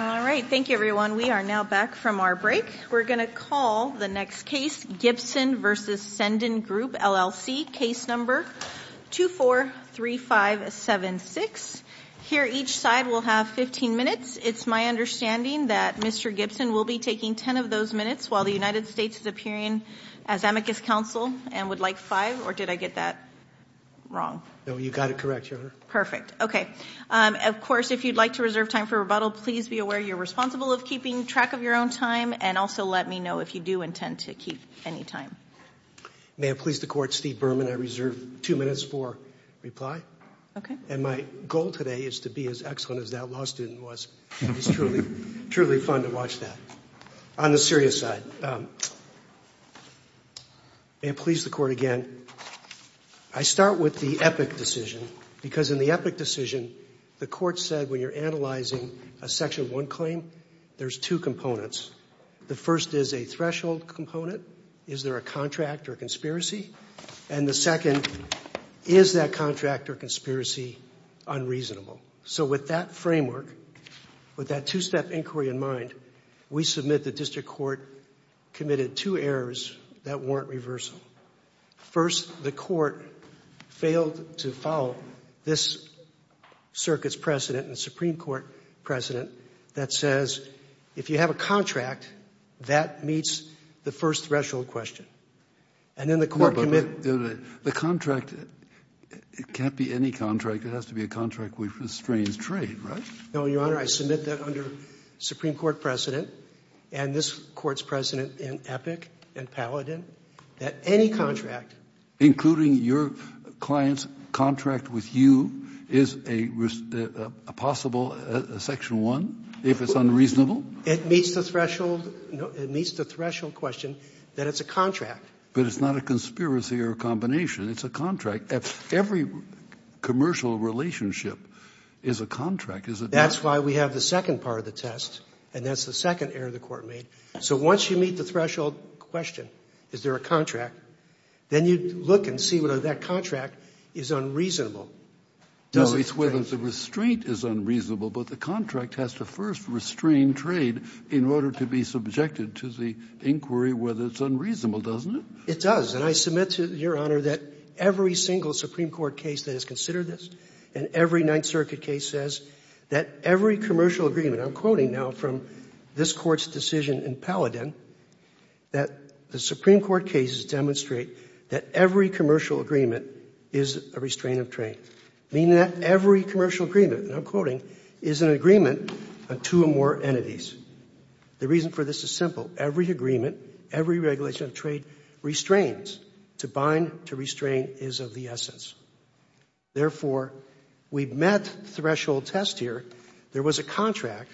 All right. Thank you, everyone. We are now back from our break. We're going to call the next case, Gibson v. Cendyn Group, LLC, case number 243576. Here, each side will have 15 minutes. It's my understanding that Mr. Gibson will be taking 10 of those minutes while the United States is appearing as amicus counsel and would like five, or did I get that wrong? No, you got it correct, Your Honor. Perfect. Okay. Of course, if you'd like to reserve time for rebuttal, please be aware you're responsible of keeping track of your own time and also let me know if you do intend to keep any time. May it please the Court, Steve Berman, I reserve two minutes for reply. Okay. And my goal today is to be as excellent as that law student was. It's truly, truly fun to watch that. On the serious side, may it please the Court again, I start with the epic decision because in the epic decision, the Court said when you're analyzing a Section 1 claim, there's two components. The first is a threshold component. Is there a contract or conspiracy? And the second, is that contract or conspiracy unreasonable? So with that framework, with that two-step inquiry in mind, we submit the District Court committed two errors that warrant reversal. First, the Court failed to follow this Circuit's precedent and Supreme Court precedent that says if you have a contract, that meets the first threshold question. No, but the contract can't be any contract. It has to be a contract which restrains trade, right? No, Your Honor, I submit that under Supreme Court precedent and this Court's precedent in epic and paladin that any contract Including your client's contract with you is a possible Section 1 if it's unreasonable? It meets the threshold question that it's a contract. But it's not a conspiracy or a combination. It's a contract. Every commercial relationship is a contract, is it not? That's why we have the second part of the test, and that's the second error the Court made. So once you meet the threshold question, is there a contract, then you look and see whether that contract is unreasonable. No, it's whether the restraint is unreasonable, but the contract has to first restrain trade in order to be subjected to the inquiry whether it's unreasonable, doesn't it? It does, and I submit to Your Honor that every single Supreme Court case that has considered this and every Ninth Circuit case says that every commercial agreement I'm quoting now from this Court's decision in paladin that the Supreme Court cases demonstrate that every commercial agreement is a restraint of trade. Meaning that every commercial agreement, and I'm quoting, is an agreement on two or more entities. The reason for this is simple. Every agreement, every regulation of trade restrains. To bind, to restrain is of the essence. Therefore, we've met threshold test here. There was a contract,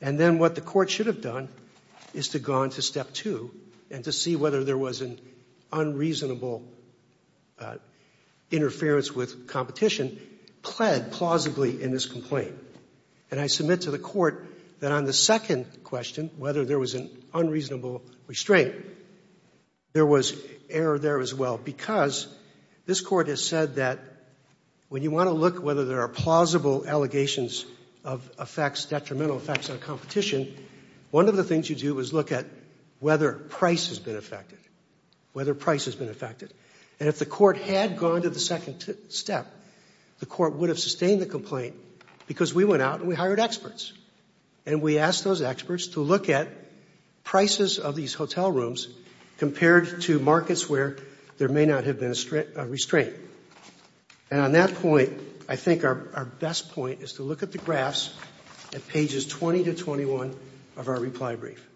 and then what the Court should have done is to have gone to step two and to see whether there was an unreasonable interference with competition pled plausibly in this complaint. And I submit to the Court that on the second question, whether there was an unreasonable restraint, there was error there as well because this Court has said that when you want to look whether there are plausible allegations of effects, detrimental effects on competition, one of the things you do is look at whether price has been affected, whether price has been affected. And if the Court had gone to the second step, the Court would have sustained the complaint because we went out and we hired experts. And we asked those experts to look at prices of these hotel rooms compared to markets where there may not have been a restraint. And on that point, I think our best point is to look at the graphs at pages 20 to 21 of our reply brief.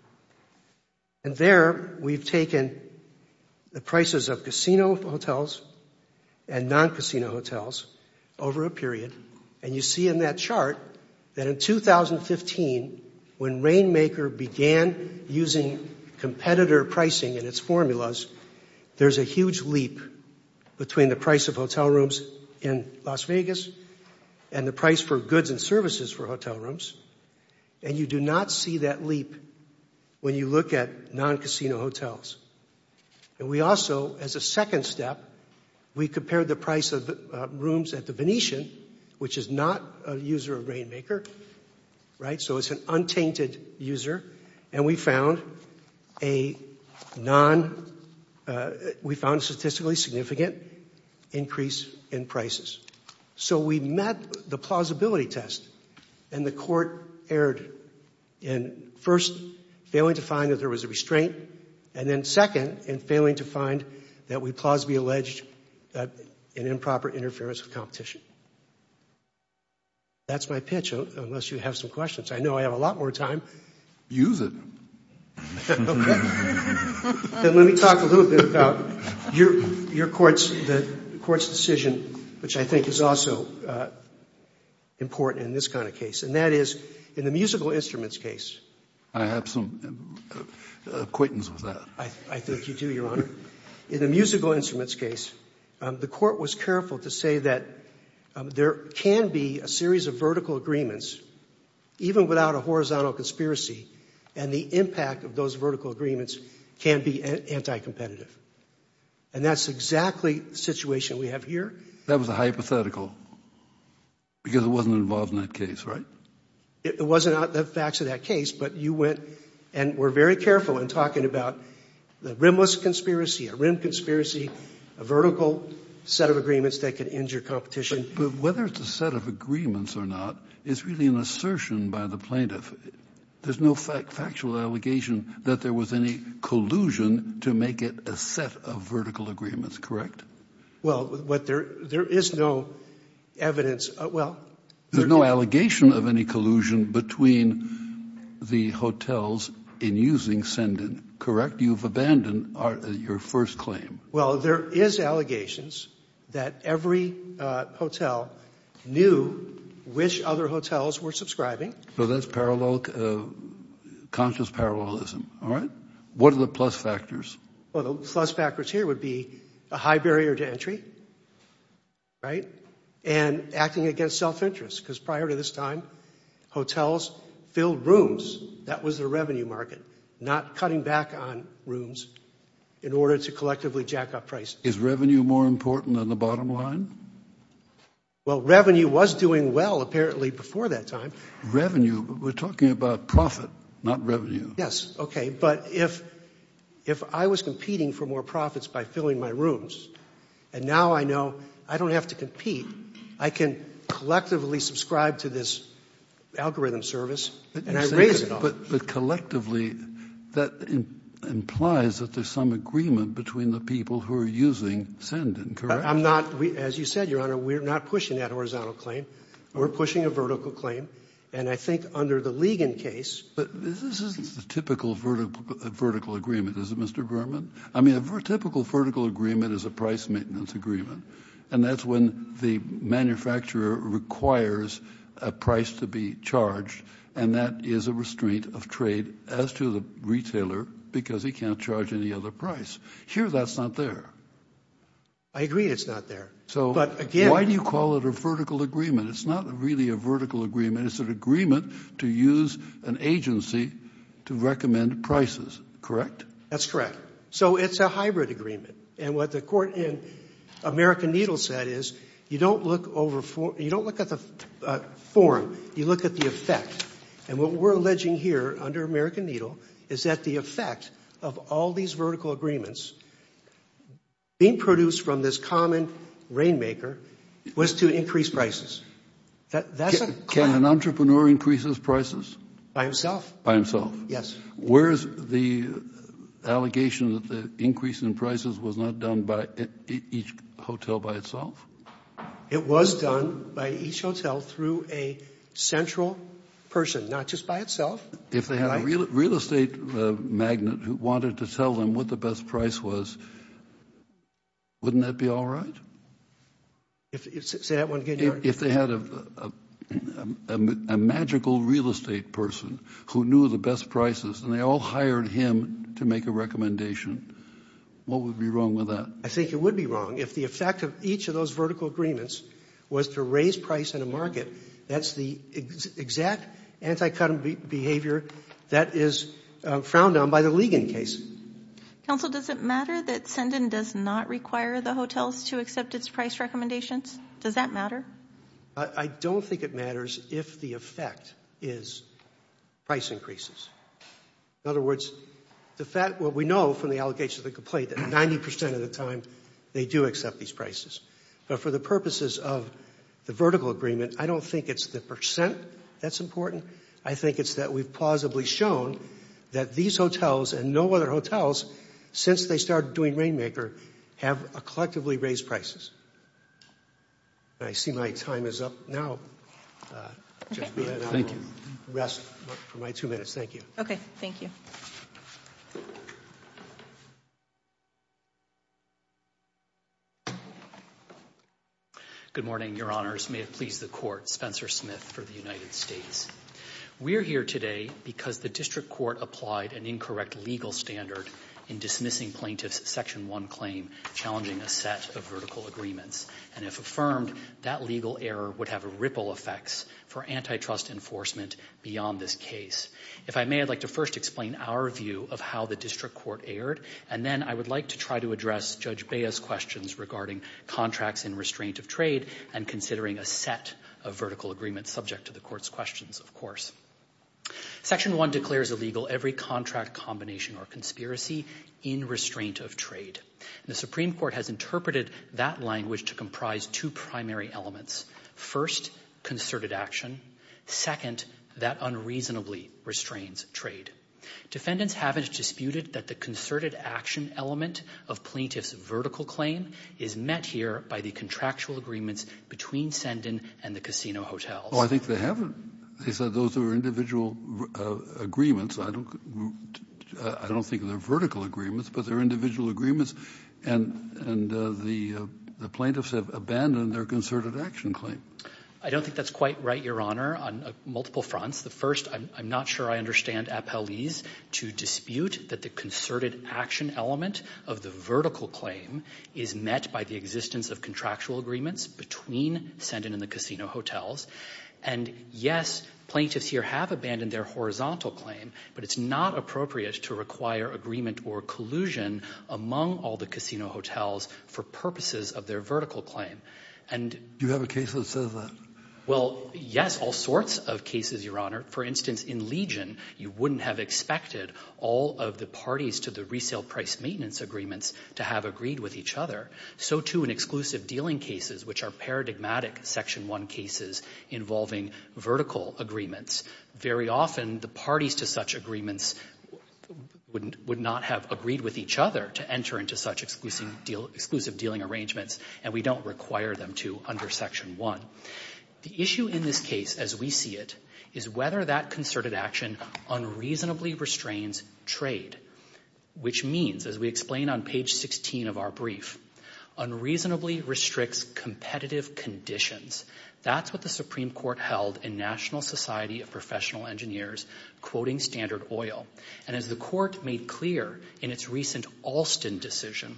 And there we've taken the prices of casino hotels and non-casino hotels over a period. And you see in that chart that in 2015, when Rainmaker began using competitor pricing in its formulas, there's a huge leap between the price of hotel rooms in Las Vegas and the price for goods and services for hotel rooms. And you do not see that leap when you look at non-casino hotels. And we also, as a second step, we compared the price of rooms at the Venetian, which is not a user of Rainmaker, right? So it's an untainted user. And we found a statistically significant increase in prices. So we met the plausibility test, and the Court erred in first failing to find that there was a restraint, and then second in failing to find that we plausibly alleged an improper interference with competition. That's my pitch, unless you have some questions. I know I have a lot more time. Use it. Then let me talk a little bit about your Court's decision, which I think is also important in this kind of case, and that is in the musical instruments case. I have some acquaintance with that. I think you do, Your Honor. In the musical instruments case, the Court was careful to say that there can be a series of vertical agreements, even without a horizontal conspiracy, and the impact of those vertical agreements can be anti-competitive. And that's exactly the situation we have here. That was a hypothetical, because it wasn't involved in that case, right? It wasn't in the facts of that case, but you went and were very careful in talking about the rimless conspiracy, a rim conspiracy, a vertical set of agreements that could injure competition. But whether it's a set of agreements or not is really an assertion by the plaintiff. There's no factual allegation that there was any collusion to make it a set of vertical agreements, correct? Well, there is no evidence. Well, there's no allegation of any collusion between the hotels in using Send-In, correct? You've abandoned your first claim. Well, there is allegations that every hotel knew which other hotels were subscribing. So that's conscious parallelism, all right? What are the plus factors? Well, the plus factors here would be a high barrier to entry, right? And acting against self-interest, because prior to this time, hotels filled rooms. That was the revenue market, not cutting back on rooms in order to collectively jack up prices. Is revenue more important than the bottom line? Well, revenue was doing well, apparently, before that time. Revenue? We're talking about profit, not revenue. Yes, okay. But if I was competing for more profits by filling my rooms, and now I know I don't have to compete, I can collectively subscribe to this algorithm service, and I raise it off. But collectively, that implies that there's some agreement between the people who are using Send-In, correct? I'm not. As you said, Your Honor, we're not pushing that horizontal claim. We're pushing a vertical claim. And I think under the Ligon case ---- But this isn't a typical vertical agreement, is it, Mr. Berman? I mean, a typical vertical agreement is a price maintenance agreement. And that's when the manufacturer requires a price to be charged, and that is a restraint of trade as to the retailer because he can't charge any other price. Here, that's not there. I agree it's not there. So why do you call it a vertical agreement? It's not really a vertical agreement. It's an agreement to use an agency to recommend prices, correct? That's correct. So it's a hybrid agreement. And what the court in American Needle said is you don't look at the form, you look at the effect. And what we're alleging here under American Needle is that the effect of all these vertical agreements being produced from this common rainmaker was to increase prices. Can an entrepreneur increase his prices? By himself. By himself. Yes. Where is the allegation that the increase in prices was not done by each hotel by itself? It was done by each hotel through a central person, not just by itself. If they had a real estate magnate who wanted to tell them what the best price was, wouldn't that be all right? Say that one again. If they had a magical real estate person who knew the best prices and they all hired him to make a recommendation, what would be wrong with that? I think it would be wrong. If the effect of each of those vertical agreements was to raise price in a market, that's the exact anti-cut-and-beat behavior that is frowned on by the Ligon case. Counsel, does it matter that Sendin does not require the hotels to accept its price recommendations? Does that matter? I don't think it matters if the effect is price increases. In other words, what we know from the allegations of the complaint, that 90% of the time they do accept these prices. But for the purposes of the vertical agreement, I don't think it's the percent that's important. I think it's that we've plausibly shown that these hotels and no other hotels, since they started doing Rainmaker, have collectively raised prices. I see my time is up now. Thank you. Rest for my two minutes. Thank you. Okay. Thank you. Good morning, Your Honors. May it please the Court. Spencer Smith for the United States. We're here today because the district court applied an incorrect legal standard in dismissing plaintiff's Section 1 claim, challenging a set of vertical agreements. And if affirmed, that legal error would have ripple effects for antitrust enforcement beyond this case. If I may, I'd like to first explain our view of how the district court erred, and then I would like to try to address Judge Bea's questions regarding contracts in restraint of trade and considering a set of vertical agreements subject to the Court's questions, of course. Section 1 declares illegal every contract combination or conspiracy in restraint of trade. The Supreme Court has interpreted that language to comprise two primary elements. First, concerted action. Second, that unreasonably restrains trade. Defendants haven't disputed that the concerted action element of plaintiff's vertical claim is met here by the contractual agreements between Sendin and the casino hotels. Oh, I think they haven't. They said those are individual agreements. I don't think they're vertical agreements, but they're individual agreements. And the plaintiffs have abandoned their concerted action claim. I don't think that's quite right, Your Honor, on multiple fronts. The first, I'm not sure I understand appellees to dispute that the concerted action element of the vertical claim is met by the existence of contractual agreements between Sendin and the casino hotels. And, yes, plaintiffs here have abandoned their horizontal claim, but it's not appropriate to require agreement or collusion among all the casino hotels for purposes of their vertical claim. Do you have a case that says that? Well, yes, all sorts of cases, Your Honor. For instance, in Legion, you wouldn't have expected all of the parties to the resale price maintenance agreements to have agreed with each other. So, too, in exclusive dealing cases, which are paradigmatic Section 1 cases involving vertical agreements, very often the parties to such agreements would not have agreed with each other to enter into such exclusive dealing arrangements, and we don't require them to under Section 1. The issue in this case, as we see it, is whether that concerted action unreasonably restrains trade, which means, as we explain on page 16 of our brief, unreasonably restricts competitive conditions. That's what the Supreme Court held in National Society of Professional Engineers, quoting Standard Oil. And as the Court made clear in its recent Alston decision,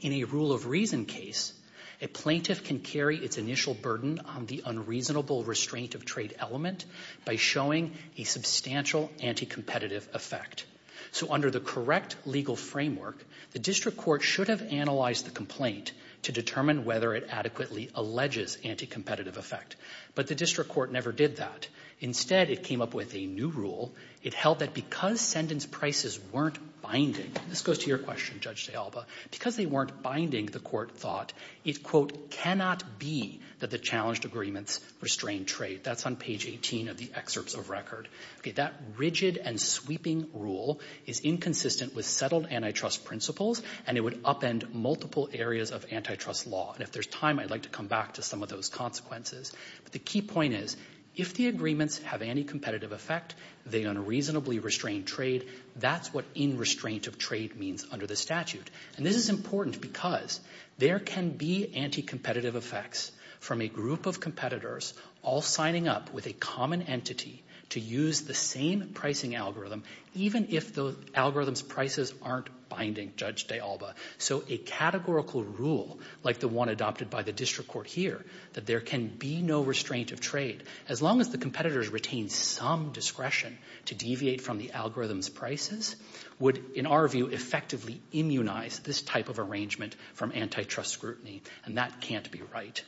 in a rule of reason case, a plaintiff can carry its initial burden on the unreasonable restraint of trade element by showing a substantial anti-competitive effect. So under the correct legal framework, the district court should have analyzed the complaint to determine whether it adequately alleges anti-competitive effect. But the district court never did that. Instead, it came up with a new rule. It held that because sentence prices weren't binding, this goes to your question, Judge de Alba, because they weren't binding, the court thought, it, quote, cannot be that the challenged agreements restrain trade. That's on page 18 of the excerpts of record. Okay, that rigid and sweeping rule is inconsistent with settled antitrust principles, and it would upend multiple areas of antitrust law. And if there's time, I'd like to come back to some of those consequences. But the key point is, if the agreements have any competitive effect, they unreasonably restrain trade, that's what in-restraint of trade means under the statute. And this is important because there can be anti-competitive effects from a group of competitors all signing up with a common entity to use the same pricing algorithm, even if the algorithm's prices aren't binding, Judge de Alba. So a categorical rule like the one adopted by the district court here, that there can be no restraint of trade, as long as the competitors retain some discretion to deviate from the algorithm's prices, would, in our view, effectively immunize this type of arrangement from antitrust scrutiny, and that can't be right.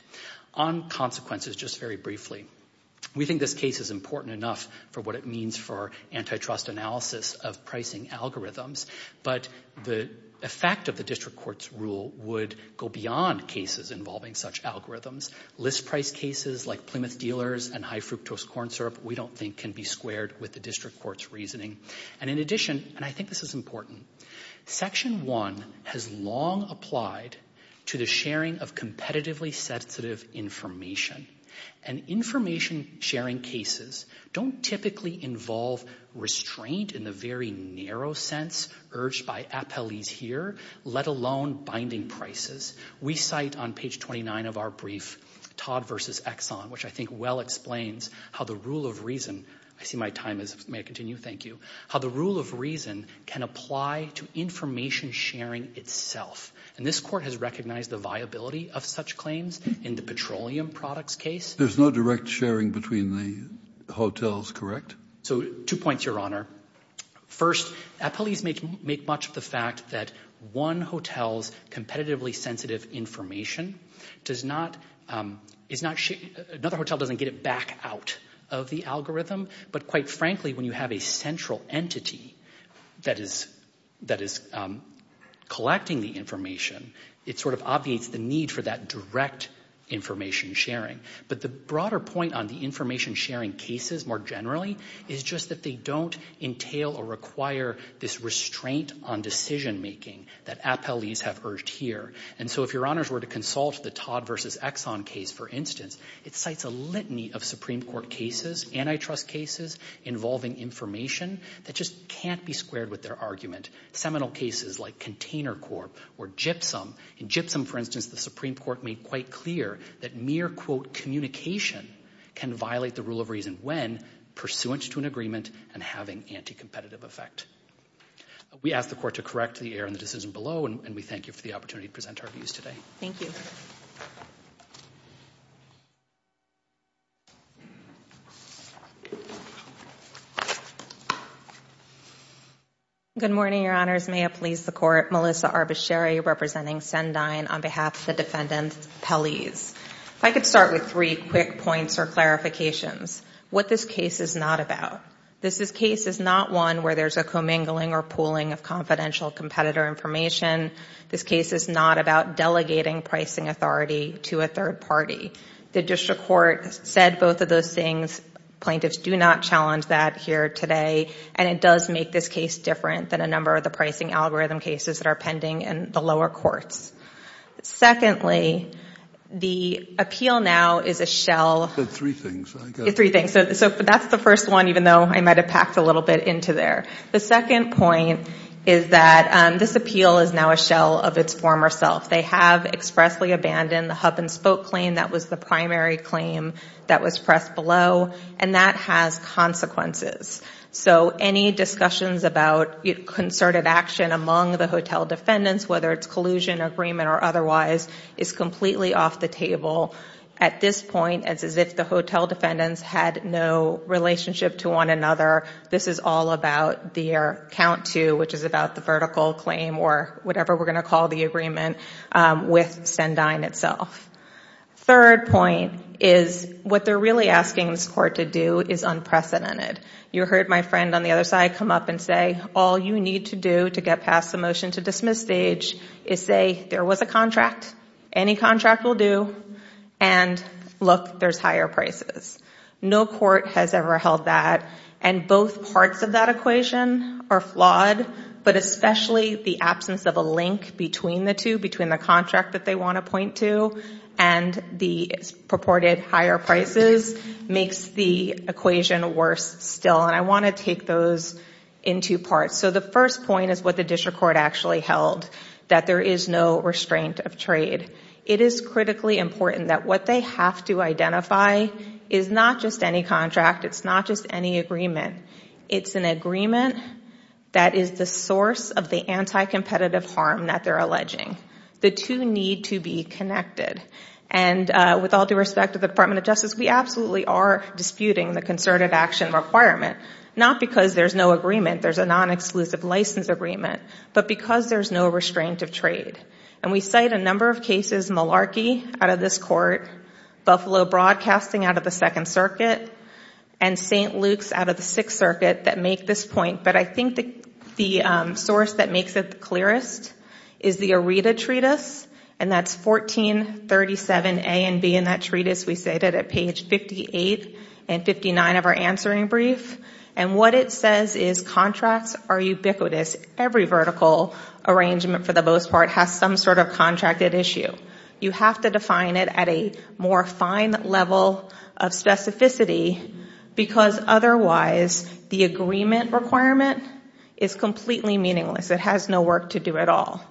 On consequences, just very briefly, we think this case is important enough for what it means for antitrust analysis of pricing algorithms, but the effect of the district court's rule would go beyond cases involving such algorithms. List price cases like Plymouth dealers and high-fructose corn syrup, we don't think can be squared with the district court's reasoning. And in addition, and I think this is important, Section 1 has long applied to the sharing of competitively sensitive information, and information-sharing cases don't typically involve restraint in the very narrow sense urged by appellees here, let alone binding prices. We cite on page 29 of our brief, Todd v. Exxon, which I think well explains how the rule of reason can apply to information-sharing itself. And this court has recognized the viability of such claims in the petroleum products case. There's no direct sharing between the hotels, correct? Two points, Your Honor. First, appellees make much of the fact that one hotel's competitively sensitive information does not, another hotel doesn't get it back out of the algorithm. But quite frankly, when you have a central entity that is collecting the information, it sort of obviates the need for that direct information-sharing. But the broader point on the information-sharing cases more generally is just that they don't entail or require this restraint on decision-making that appellees have urged here. And so if Your Honors were to consult the Todd v. Exxon case, for instance, it cites a litany of Supreme Court cases, antitrust cases involving information that just can't be squared with their argument. Seminal cases like Container Corp. or Gypsum. In Gypsum, for instance, the Supreme Court made quite clear that mere, quote, communication can violate the rule of reason when pursuant to an agreement and having anti-competitive effect. We ask the Court to correct the error in the decision below, and we thank you for the opportunity to present our views today. Thank you. Good morning, Your Honors. May it please the Court. Melissa Arbacheri representing Sendine on behalf of the defendant's appellees. If I could start with three quick points or clarifications. What this case is not about. This case is not one where there's a commingling or pooling of confidential competitor information. This case is not about delegating pricing authority to a third party. The district court said both of those things. Plaintiffs do not challenge that here today, and it does make this case different than a number of the pricing algorithm cases that are pending in the lower courts. Secondly, the appeal now is a shell. You said three things. Three things. Okay, so that's the first one, even though I might have packed a little bit into there. The second point is that this appeal is now a shell of its former self. They have expressly abandoned the hub-and-spoke claim. That was the primary claim that was pressed below, and that has consequences. So any discussions about concerted action among the hotel defendants, whether it's collusion, agreement, or otherwise, is completely off the table at this point as if the hotel defendants had no relationship to one another. This is all about their count-to, which is about the vertical claim or whatever we're going to call the agreement with Sendine itself. Third point is what they're really asking this court to do is unprecedented. You heard my friend on the other side come up and say, all you need to do to get past the motion to dismiss stage is say there was a contract, any contract will do, and look, there's higher prices. No court has ever held that, and both parts of that equation are flawed, but especially the absence of a link between the two, between the contract that they want to point to and the purported higher prices makes the equation worse still, and I want to take those in two parts. The first point is what the district court actually held, that there is no restraint of trade. It is critically important that what they have to identify is not just any contract. It's not just any agreement. It's an agreement that is the source of the anti-competitive harm that they're alleging. The two need to be connected, and with all due respect to the Department of Justice, we absolutely are disputing the concerted action requirement, not because there's no agreement. There's a non-exclusive license agreement, but because there's no restraint of trade, and we cite a number of cases, malarkey out of this court, Buffalo Broadcasting out of the Second Circuit, and St. Luke's out of the Sixth Circuit that make this point, but I think the source that makes it the clearest is the Aretha Treatise, and that's 1437A and B, and that treatise we cited at page 58 and 59 of our answering brief, and what it says is contracts are ubiquitous. Every vertical arrangement for the most part has some sort of contracted issue. You have to define it at a more fine level of specificity, because otherwise the agreement requirement is completely meaningless. It has no work to do at all,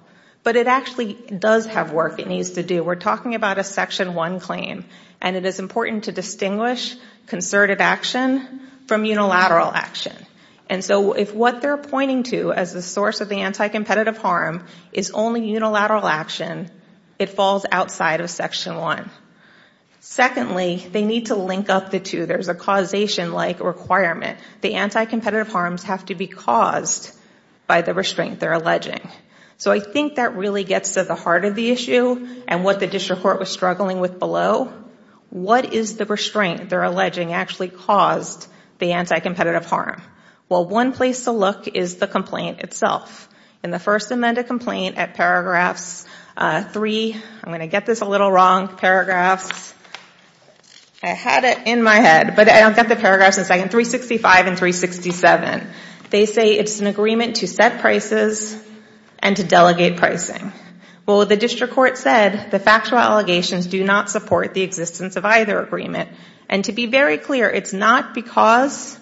but it actually does have work it needs to do. We're talking about a Section 1 claim, and it is important to distinguish concerted action from unilateral action, and so if what they're pointing to as the source of the anti-competitive harm is only unilateral action, it falls outside of Section 1. Secondly, they need to link up the two. There's a causation-like requirement. The anti-competitive harms have to be caused by the restraint they're alleging, so I think that really gets to the heart of the issue and what the district court was struggling with below. What is the restraint they're alleging actually caused the anti-competitive harm? Well, one place to look is the complaint itself. In the First Amendment complaint at paragraphs 3, I'm going to get this a little wrong, paragraphs, I had it in my head, but I don't get the paragraphs in a second, 365 and 367. They say it's an agreement to set prices and to delegate pricing. Well, the district court said the factual allegations do not support the existence of either agreement, and to be very clear, it's not because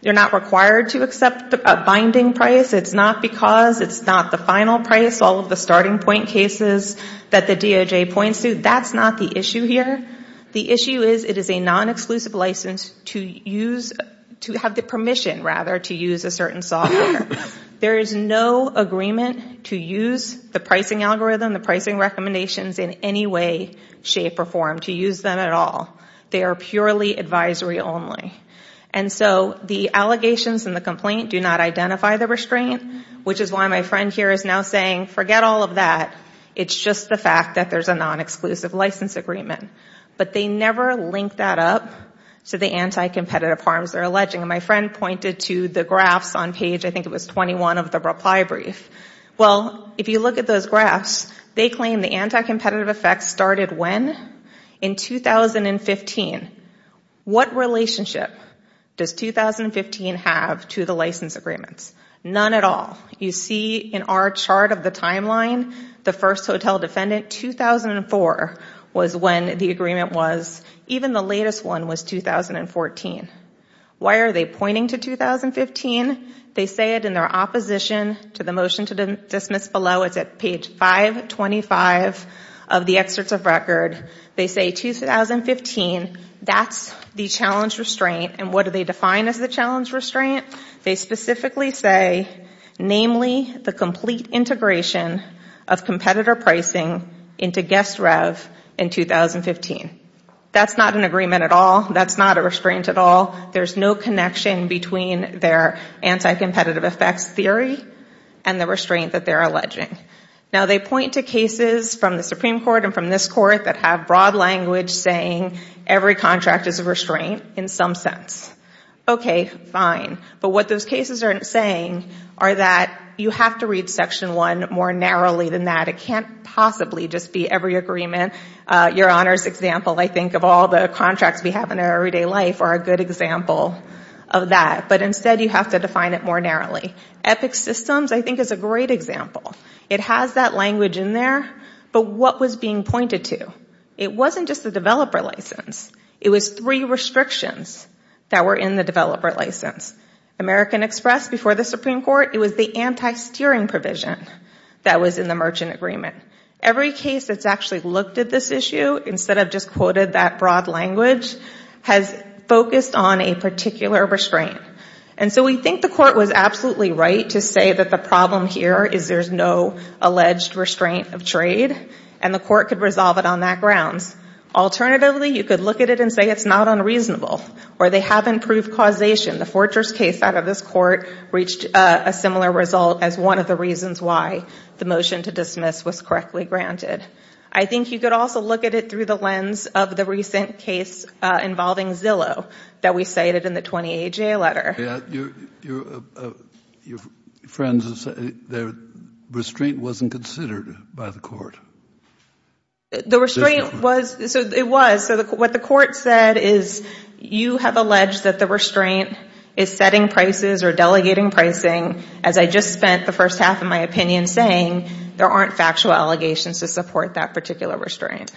you're not required to accept a binding price. It's not because it's not the final price, all of the starting point cases that the DOJ points to. That's not the issue here. The issue is it is a non-exclusive license to have the permission, rather, to use a certain software. There is no agreement to use the pricing algorithm, the pricing recommendations in any way, shape, or form, to use them at all. They are purely advisory only. And so the allegations in the complaint do not identify the restraint, which is why my friend here is now saying forget all of that. It's just the fact that there's a non-exclusive license agreement. But they never link that up to the anti-competitive harms they're alleging. And my friend pointed to the graphs on page, I think it was 21, of the reply brief. Well, if you look at those graphs, they claim the anti-competitive effects started when? In 2015. What relationship does 2015 have to the license agreements? None at all. You see in our chart of the timeline, the first hotel defendant, 2004, was when the agreement was. Even the latest one was 2014. Why are they pointing to 2015? They say it in their opposition to the motion to dismiss below. It's at page 525 of the excerpts of record. They say 2015. That's the challenge restraint. And what do they define as the challenge restraint? They specifically say, namely, the complete integration of competitor pricing into guest rev in 2015. That's not an agreement at all. That's not a restraint at all. There's no connection between their anti-competitive effects theory and the restraint that they're alleging. Now, they point to cases from the Supreme Court and from this court that have broad language saying every contract is a restraint in some sense. Okay, fine. But what those cases are saying are that you have to read Section 1 more narrowly than that. It can't possibly just be every agreement. Your Honor's example, I think, of all the contracts we have in our everyday life are a good example of that. But instead, you have to define it more narrowly. Epic Systems, I think, is a great example. It has that language in there, but what was being pointed to? It wasn't just the developer license. It was three restrictions that were in the developer license. American Express before the Supreme Court, it was the anti-steering provision that was in the merchant agreement. Every case that's actually looked at this issue, instead of just quoted that broad language, has focused on a particular restraint. And so we think the court was absolutely right to say that the problem here is there's no alleged restraint of trade, and the court could resolve it on that grounds. Alternatively, you could look at it and say it's not unreasonable, or they haven't proved causation. The Fortress case out of this court reached a similar result as one of the reasons why the motion to dismiss was correctly granted. I think you could also look at it through the lens of the recent case involving Zillow that we cited in the 20AJ letter. Your friends have said the restraint wasn't considered by the court. The restraint was. It was. So what the court said is you have alleged that the restraint is setting prices or delegating pricing, as I just spent the first half of my opinion saying there aren't factual allegations to support that particular restraint.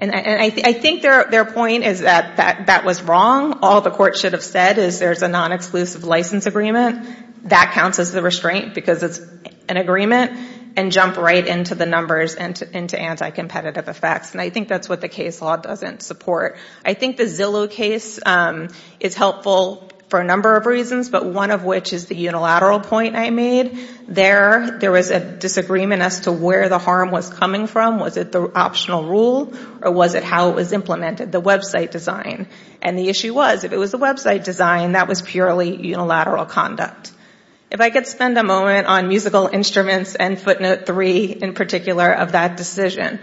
And I think their point is that that was wrong. All the court should have said is there's a non-exclusive license agreement. That counts as the restraint because it's an agreement, and jump right into the numbers and into anti-competitive effects. And I think that's what the case law doesn't support. I think the Zillow case is helpful for a number of reasons, but one of which is the unilateral point I made. There was a disagreement as to where the harm was coming from. Was it the optional rule, or was it how it was implemented, the website design? And the issue was if it was the website design, that was purely unilateral conduct. If I could spend a moment on musical instruments and footnote three in particular of that decision.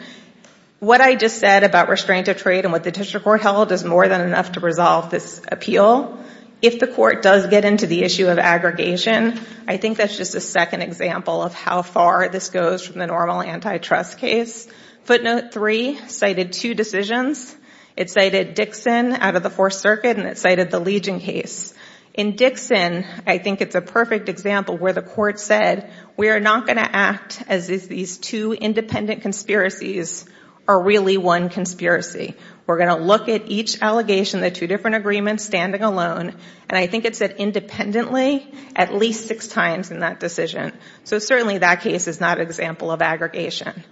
What I just said about restraint of trade and what the district court held is more than enough to resolve this appeal. If the court does get into the issue of aggregation, I think that's just a second example of how far this goes from the normal antitrust case. Footnote three cited two decisions. It cited Dixon out of the Fourth Circuit, and it cited the Legion case. In Dixon, I think it's a perfect example where the court said, we are not going to act as if these two independent conspiracies are really one conspiracy. We're going to look at each allegation, the two different agreements, standing alone. And I think it said independently at least six times in that decision. So certainly that case is not an example of aggregation.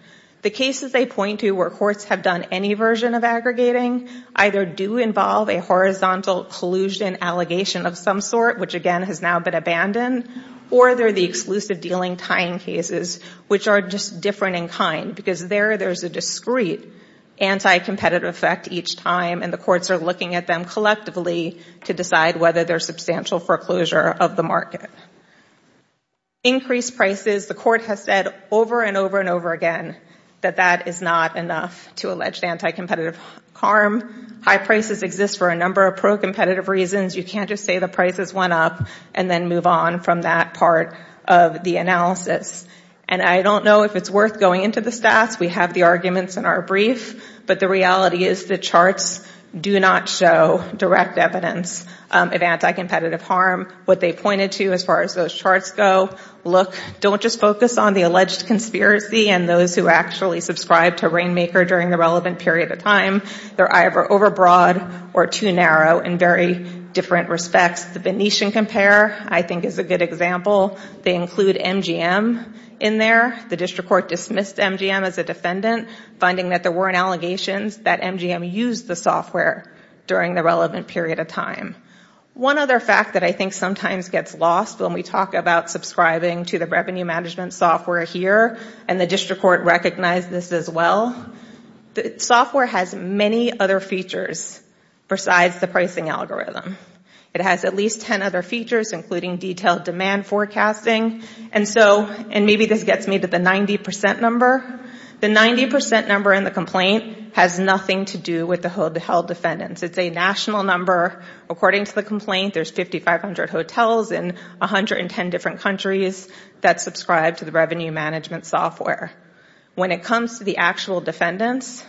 The cases they point to where courts have done any version of aggregating either do involve a horizontal collusion allegation of some sort, which again has now been abandoned, or they're the exclusive dealing tying cases, which are just different in kind because there there's a discrete anti-competitive effect each time, and the courts are looking at them collectively to decide whether there's substantial foreclosure of the market. Increased prices. The court has said over and over and over again that that is not enough to allege anti-competitive harm. High prices exist for a number of pro-competitive reasons. You can't just say the prices went up and then move on from that part of the analysis. And I don't know if it's worth going into the stats. We have the arguments in our brief, but the reality is the charts do not show direct evidence of anti-competitive harm. What they pointed to as far as those charts go, look, don't just focus on the alleged conspiracy and those who actually subscribed to Rainmaker during the relevant period of time. They're either overbroad or too narrow in very different respects. The Venetian Comparer I think is a good example. They include MGM in there. The district court dismissed MGM as a defendant, finding that there weren't allegations that MGM used the software during the relevant period of time. One other fact that I think sometimes gets lost when we talk about subscribing to the revenue management software here, and the district court recognized this as well, the software has many other features besides the pricing algorithm. It has at least 10 other features, including detailed demand forecasting. And maybe this gets me to the 90% number. The 90% number in the complaint has nothing to do with the held defendants. It's a national number. According to the complaint, there's 5,500 hotels in 110 different countries that subscribe to the revenue management software. When it comes to the actual defendants,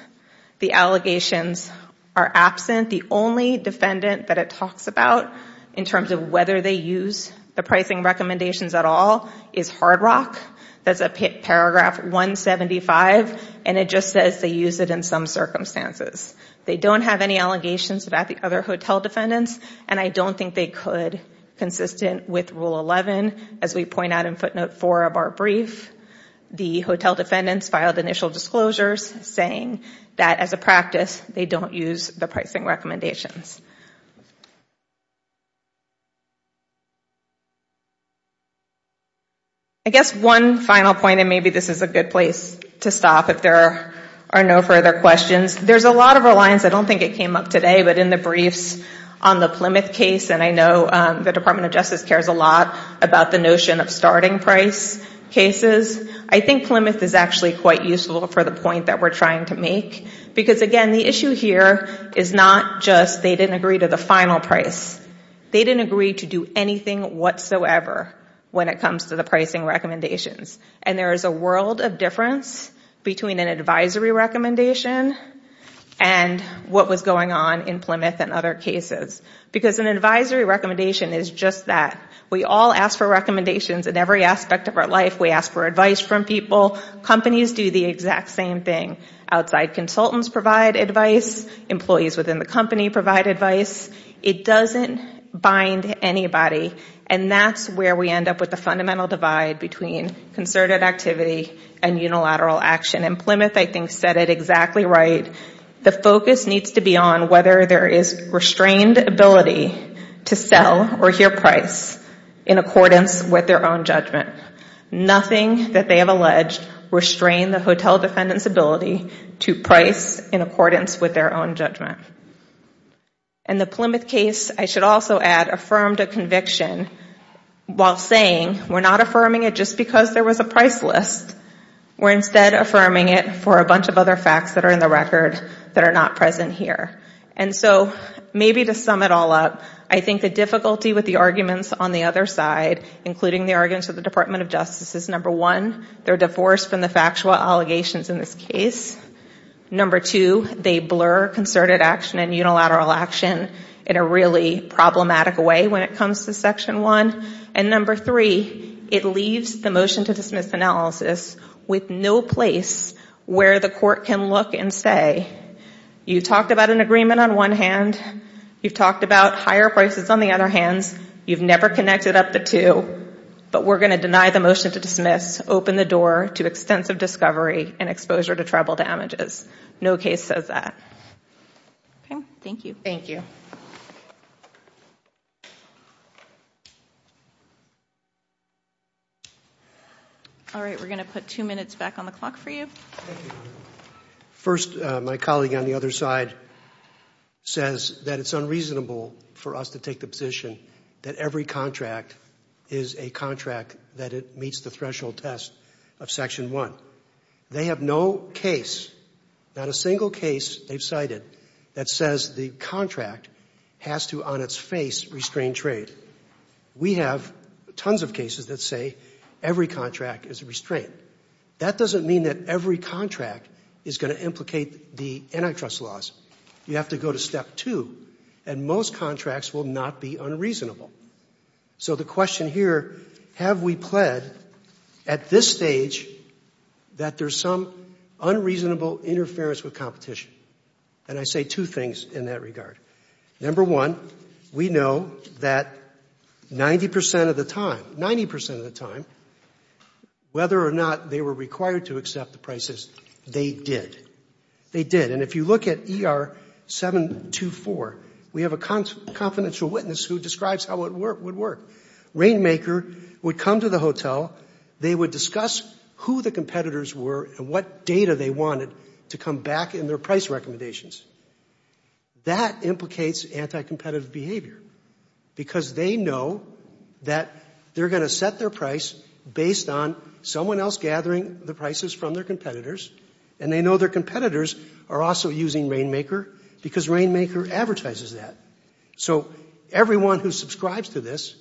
the allegations are absent. The only defendant that it talks about in terms of whether they use the pricing recommendations at all is Hard Rock. That's paragraph 175, and it just says they use it in some circumstances. They don't have any allegations about the other hotel defendants, and I don't think they could consistent with Rule 11. As we point out in footnote 4 of our brief, the hotel defendants filed initial disclosures saying that as a practice, they don't use the pricing recommendations. I guess one final point, and maybe this is a good place to stop if there are no further questions. There's a lot of reliance. I don't think it came up today, but in the briefs on the Plymouth case, and I know the Department of Justice cares a lot about the notion of starting price cases, I think Plymouth is actually quite useful for the point that we're trying to make. Because again, the issue here is not just they didn't agree to the final price. They didn't agree to do anything whatsoever when it comes to the pricing recommendations. And there is a world of difference between an advisory recommendation and what was going on in Plymouth and other cases. Because an advisory recommendation is just that. We all ask for recommendations in every aspect of our life. We ask for advice from people. Companies do the exact same thing. Outside consultants provide advice. Employees within the company provide advice. It doesn't bind anybody. And that's where we end up with the fundamental divide between concerted activity and unilateral action. And Plymouth, I think, said it exactly right. The focus needs to be on whether there is restrained ability to sell or hear price in accordance with their own judgment. Nothing that they have alleged restrained the hotel defendant's ability to price in accordance with their own judgment. And the Plymouth case, I should also add, affirmed a conviction while saying we're not affirming it just because there was a price list. We're instead affirming it for a bunch of other facts that are in the record that are not present here. And so maybe to sum it all up, I think the difficulty with the arguments on the other side, including the arguments of the Department of Justice, is number one, they're divorced from the factual allegations in this case. Number two, they blur concerted action and unilateral action in a really problematic way when it comes to Section 1. And number three, it leaves the motion to dismiss analysis with no place where the court can look and say, you talked about an agreement on one hand. You've talked about higher prices on the other hand. You've never connected up the two. But we're going to deny the motion to dismiss, open the door to extensive discovery and exposure to tribal damages. No case says that. Okay, thank you. Thank you. All right, we're going to put two minutes back on the clock for you. First, my colleague on the other side says that it's unreasonable for us to take the position that every contract is a contract that it meets the threshold test of Section 1. They have no case, not a single case they've cited, that says the contract has to on its face restrain trade. We have tons of cases that say every contract is a restraint. That doesn't mean that every contract is going to implicate the antitrust laws. You have to go to step two, and most contracts will not be unreasonable. So the question here, have we pled at this stage that there's some unreasonable interference with competition? And I say two things in that regard. Number one, we know that 90% of the time, 90% of the time, whether or not they were required to accept the prices, they did. They did. And if you look at ER 724, we have a confidential witness who describes how it would work. Rainmaker would come to the hotel. They would discuss who the competitors were and what data they wanted to come back in their price recommendations. That implicates anti-competitive behavior because they know that they're going to set their price based on someone else gathering the prices from their competitors, and they know their competitors are also using Rainmaker because Rainmaker advertises that. So everyone who subscribes to this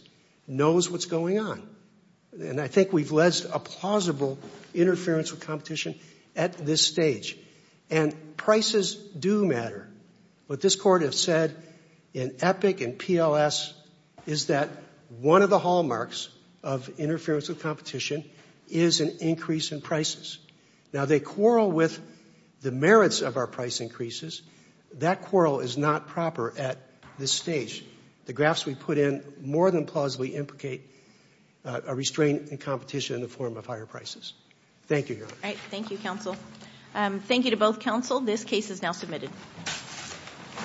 knows what's going on, and I think we've led a plausible interference with competition at this stage. And prices do matter. What this Court has said in EPIC and PLS is that one of the hallmarks of interference with competition is an increase in prices. Now, they quarrel with the merits of our price increases. That quarrel is not proper at this stage. The graphs we put in more than plausibly implicate a restraint in competition in the form of higher prices. Thank you, Your Honor. Thank you, counsel. Thank you to both counsel. This case is now submitted.